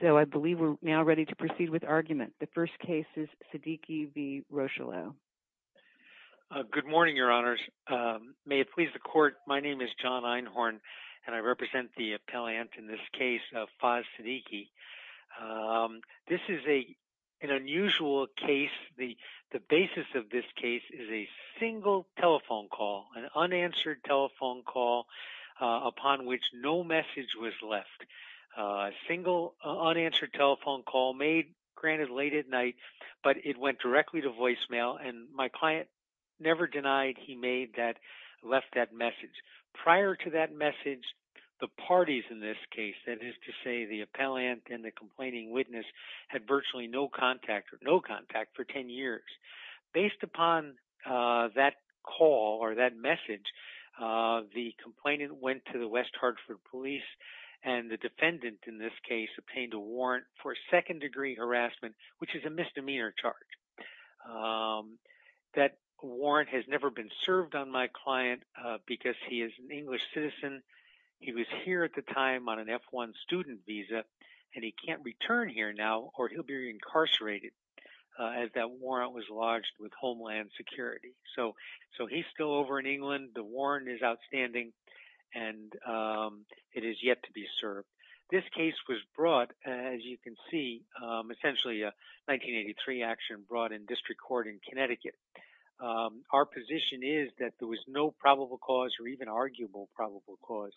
So I believe we're now ready to proceed with argument. The first case is Siddiqui v. Rocheleau. Good morning, your honors. May it please the court, my name is John Einhorn, and I represent the appellant in this case, Faz Siddiqui. This is an unusual case. The basis of this case is a single telephone call, an unanswered telephone call, upon which no message was left. A single unanswered telephone call made, granted late at night, but it went directly to voicemail, and my client never denied he made that, left that message. Prior to that message, the parties in this case, that is to say the appellant and the complaining witness, had virtually no contact for 10 years. Based upon that call or that message, the complainant went to the West Hartford police, and the defendant in this case obtained a warrant for second degree harassment, which is a misdemeanor charge. That warrant has never been served on my client because he is an English citizen. He was here at the time on an F-1 student visa, and he can't return here now or he'll be incarcerated as that warrant was lodged with is outstanding, and it is yet to be served. This case was brought, as you can see, essentially a 1983 action brought in district court in Connecticut. Our position is that there was no probable cause or even arguable probable cause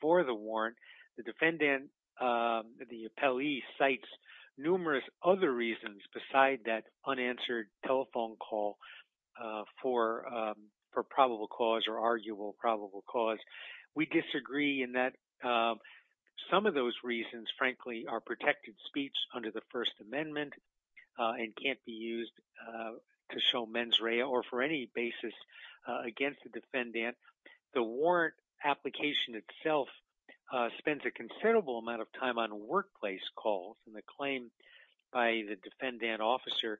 for the warrant. The defendant, the appellee, cites numerous other reasons beside that unanswered telephone call for probable cause or arguable probable cause. We disagree in that some of those reasons, frankly, are protected speech under the First Amendment and can't be used to show mens rea or for any basis against the claim by the defendant officer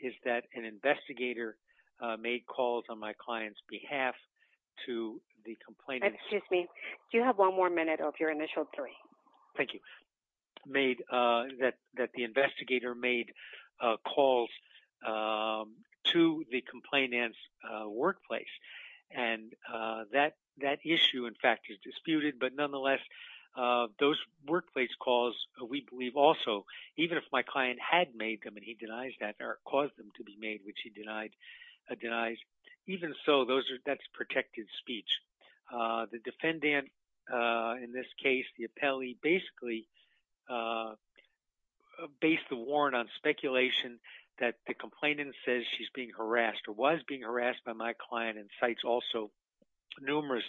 is that an investigator made calls on my client's behalf to the complainant. Excuse me. Do you have one more minute of your initial three? Thank you. That the investigator made calls to the complainant's workplace, and that issue, in fact, is disputed. But nonetheless, those workplace calls, we believe also, even if my client had made them and he denies that or caused them to be made, which he denies, even so, that's protected speech. The defendant, in this case, the appellee, basically based the warrant on speculation that the complainant says she's being harassed or was harassed by my client and cites also numerous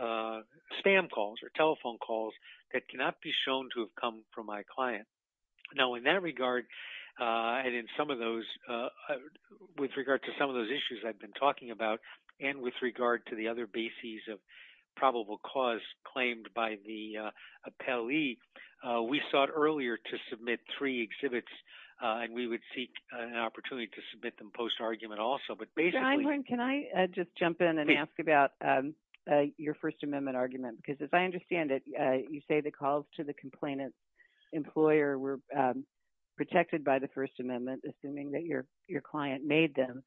spam calls or telephone calls that cannot be shown to have come from my client. Now, in that regard, and in some of those, with regard to some of those issues I've been talking about, and with regard to the other bases of probable cause claimed by the appellee, we sought earlier to submit three exhibits, and we would seek an opportunity to submit them post-argument also, but basically... John, can I just jump in and ask about your First Amendment argument? Because as I understand it, you say the calls to the complainant's employer were protected by the First Amendment, assuming that your client made them.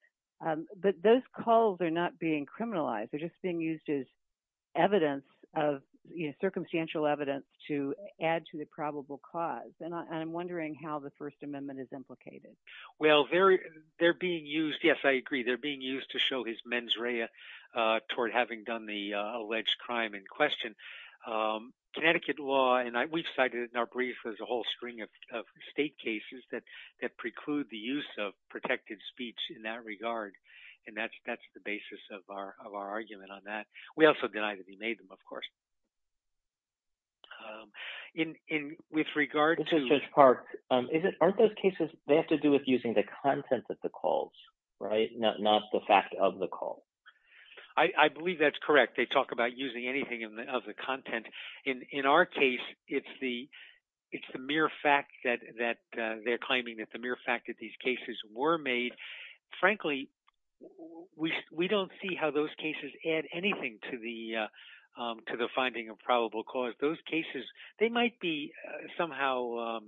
But those calls are not being criminalized. They're just being used as circumstantial evidence to add to the probable cause. And I'm wondering how the First Amendment is implicated. Well, they're being used... Yes, I agree. They're being used to show his mens rea toward having done the alleged crime in question. Connecticut law, and we've cited in our brief, there's a whole string of state cases that preclude the use of protected speech in that regard, and that's the basis of our argument on that. We also deny that he made them, of course. This is Judge Park. Aren't those cases, they have to do with using the content of the calls, right? Not the fact of the call. I believe that's correct. They talk about using anything of the content. In our case, it's the mere fact that they're claiming that the mere fact that these cases were made. Frankly, we don't see how those cases add anything to the finding of probable cause. Those cases, they might be somehow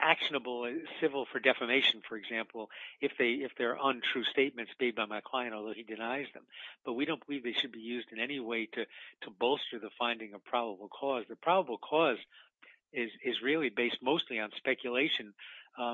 actionable and civil for defamation, for example, if they're untrue statements made by my client, although he denies them. But we don't believe they should be used in any way to bolster the finding of probable cause. The probable cause is really based mostly on speculation.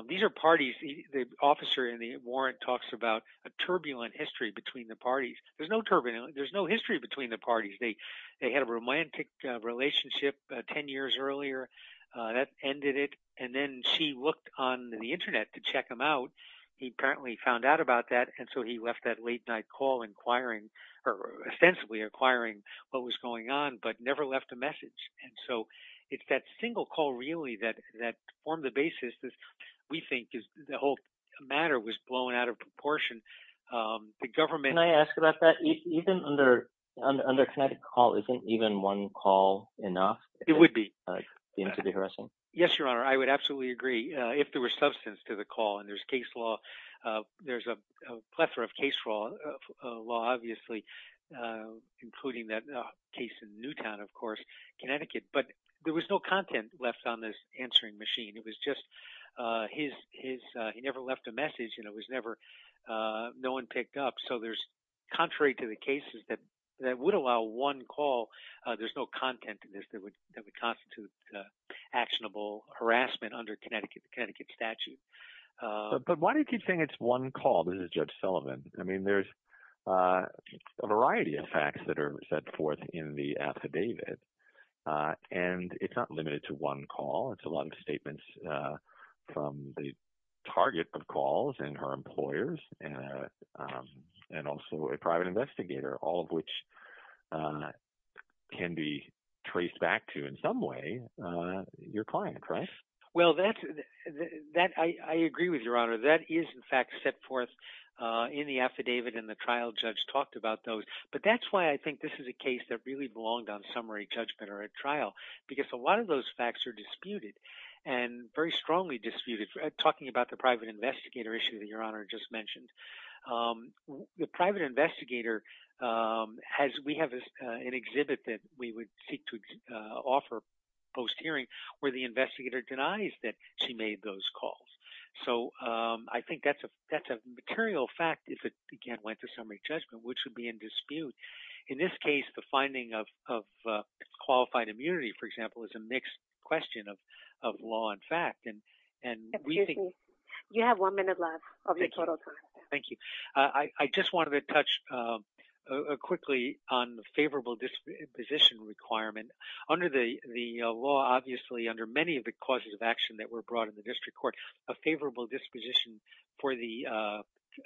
These are parties, the officer in the warrant talks about a turbulent history between the parties. There's no history between the parties. They had a romantic relationship 10 years earlier that ended it, and then she looked on the internet to check him out. He apparently found out about that, and so he left that late night call inquiring, or ostensibly inquiring what was going on, but never left a message. And so it's that single call really that formed the basis that we think the whole matter was blown out of proportion. The government... Under Connecticut call, isn't even one call enough? It would be. Yes, Your Honor. I would absolutely agree. If there were substance to the call, and there's a plethora of case law, obviously, including that case in Newtown, of course, Connecticut, but there was no content left on this answering machine. It was just he never left a message, it was never... No one picked up. So there's, contrary to the cases that would allow one call, there's no content in this that would constitute actionable harassment under Connecticut statute. But why do you keep saying it's one call? This is Judge Sullivan. I mean, there's a variety of facts that are set forth in the affidavit, and it's not limited to one call. It's a lot of statements from the target of calls and her employers, and also a private investigator, all of which can be traced back to, in some way, your client, right? Well, I agree with Your Honor. That is, in fact, set forth in the affidavit, and the trial judge talked about those. But that's why I think this is a case that really belonged on summary judgment or a trial, because a lot of those facts are disputed, and very strongly disputed, talking about the private investigator issue that Your Honor just mentioned. The private investigator has... We have an exhibit that we would seek to offer post-hearing, where the investigator denies that she made those calls. So I think that's a material fact if it, again, went to summary judgment, which would be in dispute. In this case, the finding of qualified immunity, for example, is a mixed question of law and fact. Excuse me. You have one minute left of your total time. Thank you. I just wanted to touch quickly on the favorable disposition requirement. Under the law, obviously, under many of the causes of action that were brought in the district court, a favorable disposition for the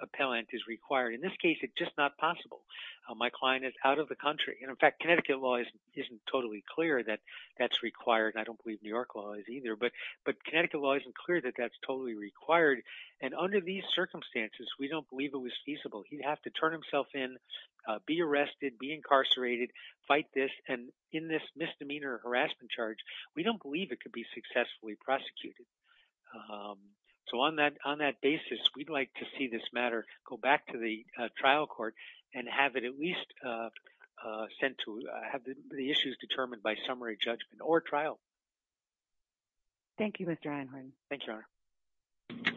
appellant is required. In this case, it's just not possible. My client is out of the country. In fact, Connecticut law isn't totally clear that that's required. I don't believe New York law is either. But Connecticut law isn't clear that that's totally required. Under these circumstances, we don't believe it was feasible. He'd have to turn himself in, be arrested, be incarcerated, fight this. In this misdemeanor harassment charge, we don't believe it could be successfully prosecuted. So on that basis, we'd like to see this matter go back to the trial court and have it at least sent to have the issues determined by summary judgment or trial. Thank you, Mr. Einhorn. Thank you, Your Honor.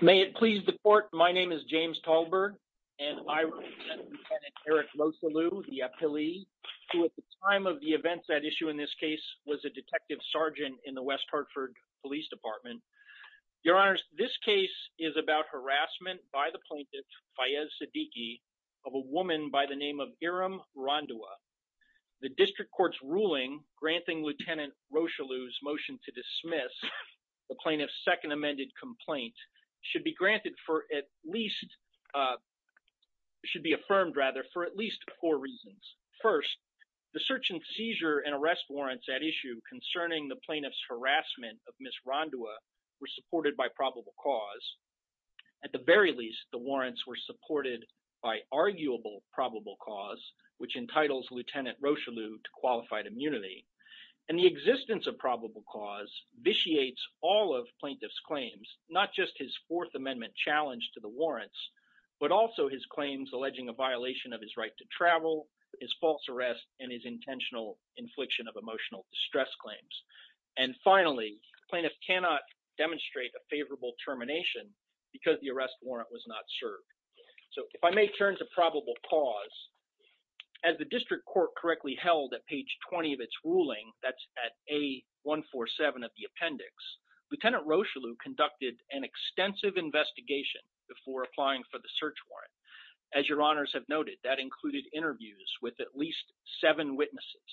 May it please the court. My name is James Tallberg, and I represent Lieutenant Eric Rosalieu, the appellee, who at the time of the events that issue in this case was a detective sergeant in the West Hartford Police Department. Your Honor, this case is about harassment by the plaintiff, Fayez Siddiqui, of a woman by the name of Irem Rondua. The district court's ruling granting Lieutenant Rosalieu's motion to dismiss the plaintiff's second amended complaint should be granted for at least, should be affirmed rather, for at least four reasons. First, the search and seizure and arrest warrants at issue concerning the plaintiff's harassment of Ms. Rondua were supported by probable cause. At the very least, the warrants were supported by arguable probable cause, which entitles Lieutenant Rosalieu to qualified immunity. And the existence of probable cause vitiates all of plaintiff's claims, not just his fourth amendment challenge to the warrants, but also his claims alleging a violation of his right to travel, his false arrest, and his intentional infliction of emotional distress claims. And finally, the plaintiff cannot demonstrate a favorable termination because the arrest warrant was not served. So if I may turn to probable cause, as the district court correctly held at page 20 of its ruling, that's at A147 of the appendix, Lieutenant Rosalieu conducted an extensive investigation before applying for the search warrant. As your honors have noted, that included interviews with at least seven witnesses.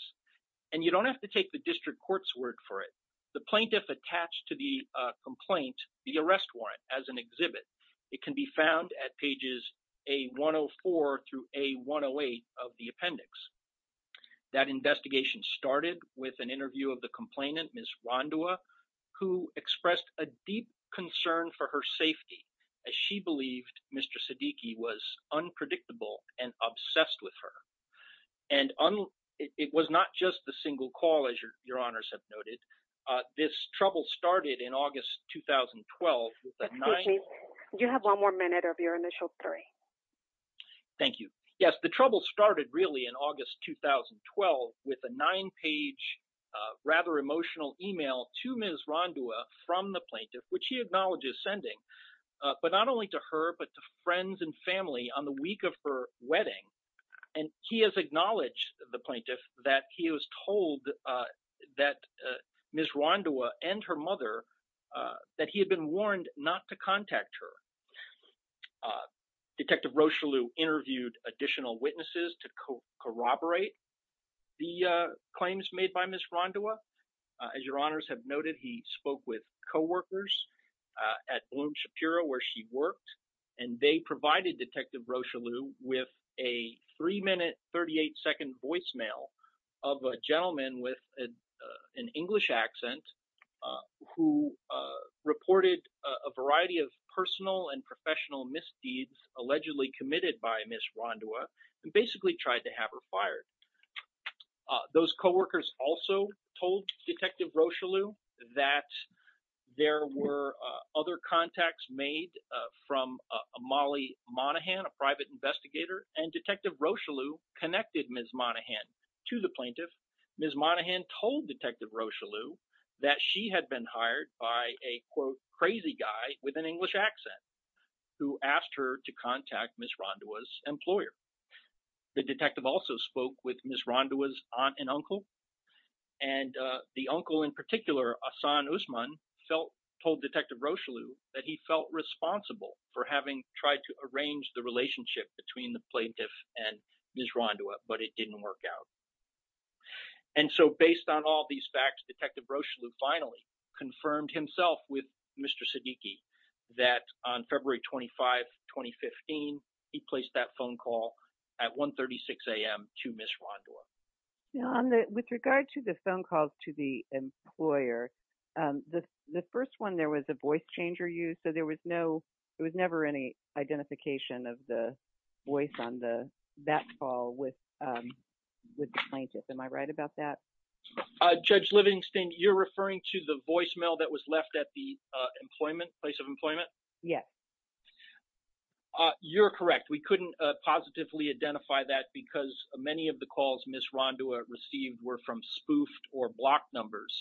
And you don't have to take the court's word for it. The plaintiff attached to the complaint, the arrest warrant as an exhibit, it can be found at pages A104 through A108 of the appendix. That investigation started with an interview of the complainant, Ms. Rondua, who expressed a deep concern for her safety, as she believed Mr. Siddiqui was unpredictable and obsessed with her. And it was not just the plaintiff, as your honors have noted, this trouble started in August, 2012, with a nine- Excuse me, do you have one more minute of your initial three? Thank you. Yes, the trouble started really in August, 2012, with a nine-page, rather emotional email to Ms. Rondua from the plaintiff, which he acknowledges sending, but not only to her, but to friends and family on the week of her wedding. And he has acknowledged, the plaintiff, that he was told that Ms. Rondua and her mother, that he had been warned not to contact her. Detective Rocheleau interviewed additional witnesses to corroborate the claims made by Ms. Rondua. As your honors have noted, he spoke with coworkers at Bloom Shapiro, where she worked, and they provided Detective Rocheleau with a three-minute, 38-second voicemail of a gentleman with an English accent, who reported a variety of personal and professional misdeeds allegedly committed by Ms. Rondua, and basically tried to have her fired. Those coworkers also told Detective Rocheleau that there were other contacts made from Molly Monaghan, a private investigator, and Detective Rocheleau connected Ms. Monaghan to the plaintiff. Ms. Monaghan told Detective Rocheleau that she had been hired by a, quote, crazy guy with an English accent, who asked her to contact Ms. Rondua's employer. The detective also spoke with Ms. Rondua's aunt and uncle, and the uncle in particular, Ahsan Usman, told Detective Rocheleau that he felt responsible for having tried to arrange the relationship between the plaintiff and Ms. Rondua, but it didn't work out. And so, based on all these facts, Detective Rocheleau finally confirmed himself with Mr. Siddiqui that on February 25, 2015, he placed that phone call at 1.36 a.m. to Ms. Rondua. With regard to the phone calls to the employer, the first one there was a voice changer used, so there was no, there was never any identification of the voice on that call with the plaintiff. Am I right about that? Judge Livingston, you're referring to the voicemail that was left at the employment, place of employment? Yes. Uh, you're correct. We couldn't positively identify that because many of the calls Ms. Rondua received were from spoofed or blocked numbers,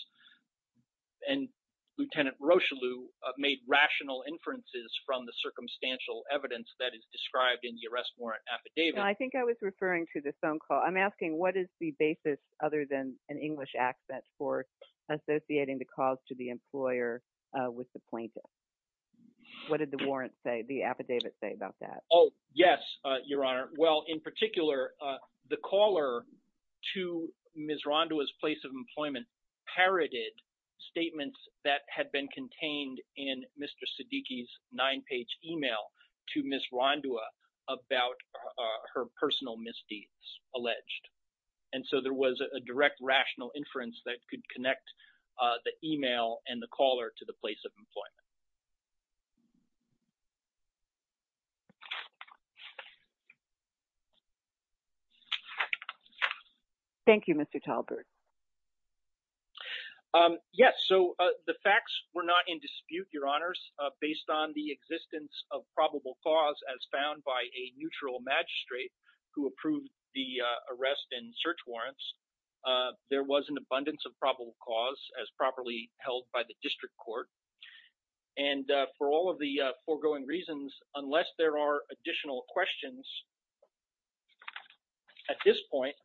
and Lieutenant Rocheleau made rational inferences from the circumstantial evidence that is described in the arrest warrant affidavit. I think I was referring to the phone call. I'm asking what is the basis other than an English accent for associating the calls to the employer with the plaintiff? What did the warrant say, the affidavit say about that? Oh, yes, Your Honor. Well, in particular, the caller to Ms. Rondua's place of employment parroted statements that had been contained in Mr. Siddiqui's nine-page email to Ms. Rondua about her personal misdeeds, alleged. And so, there was a direct rational inference that could connect the email and the caller to the place of employment. Thank you, Mr. Talbert. Yes. So, the facts were not in dispute, Your Honors, based on the existence of probable cause as found by a neutral magistrate who approved the arrest and search warrants. There was an abundance of probable cause as properly held by the district court. And for all of the foregoing reasons, unless there are additional questions, at this point,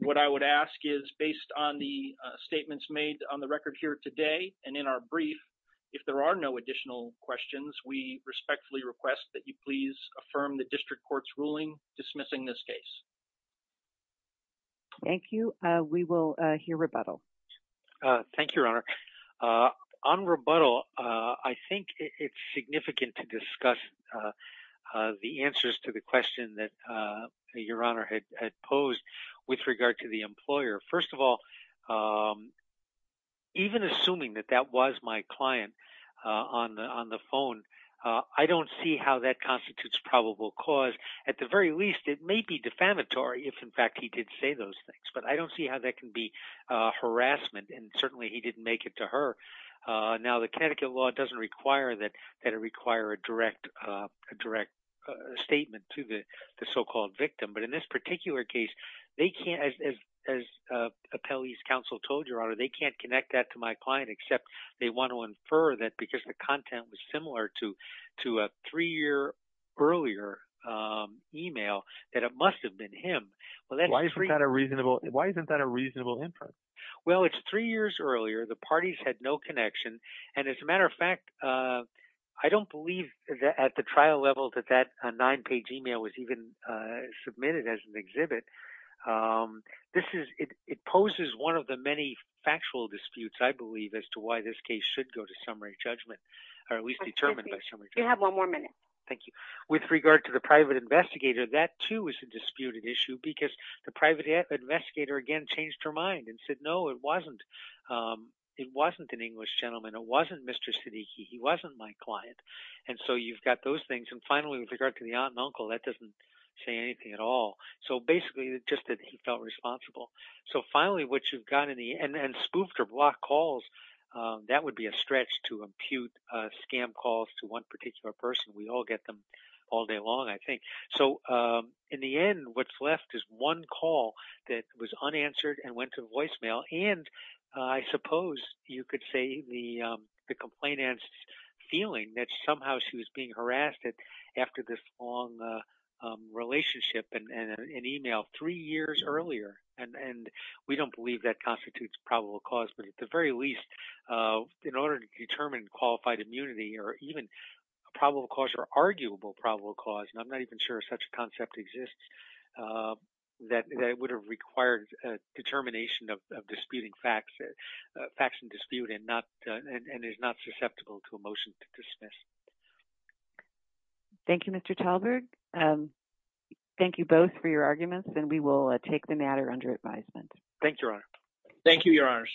what I would ask is, based on the statements made on the record here today and in our brief, if there are no additional questions, we respectfully request that you affirm the district court's ruling dismissing this case. Thank you. We will hear rebuttal. Thank you, Your Honor. On rebuttal, I think it's significant to discuss the answers to the question that Your Honor had posed with regard to the employer. First of all, even assuming that that was my client on the phone, I don't see how that constitutes probable cause. At the very least, it may be defamatory if, in fact, he did say those things. But I don't see how that can be harassment. And certainly, he didn't make it to her. Now, the Connecticut law doesn't require that it require a direct statement to the so-called victim. But in this particular case, as Appellee's they want to infer that because the content was similar to a three-year earlier email, that it must have been him. Why isn't that a reasonable inference? Well, it's three years earlier. The parties had no connection. And as a matter of fact, I don't believe that at the trial level that that nine-page email was even submitted as an exhibit. It poses one of the many factual disputes, I believe, as to why this case should go to summary judgment or at least determined by summary judgment. You have one more minute. Thank you. With regard to the private investigator, that too is a disputed issue because the private investigator again changed her mind and said, no, it wasn't an English gentleman. It wasn't Mr. Siddiqi. He wasn't my client. And so you've got those things. And finally, with regard to the aunt and uncle, that doesn't say anything at all. So basically, just that he felt responsible. So finally, what you've got in the end, and spoofed or blocked calls, that would be a stretch to impute scam calls to one particular person. We all get them all day long, I think. So in the end, what's left is one call that was unanswered and went to voicemail. And I suppose you could say the complainant's feeling that somehow she was being harassed after this long relationship and an email three years earlier. And we don't believe that constitutes probable cause. But at the very least, in order to determine qualified immunity or even probable cause or arguable probable cause, and I'm not even sure such a concept exists, that would have required a determination of disputing facts and dispute and is not Thank you, Mr. Talberg. Thank you both for your arguments, and we will take the matter under advisement. Thank you, Your Honor. Thank you, Your Honors.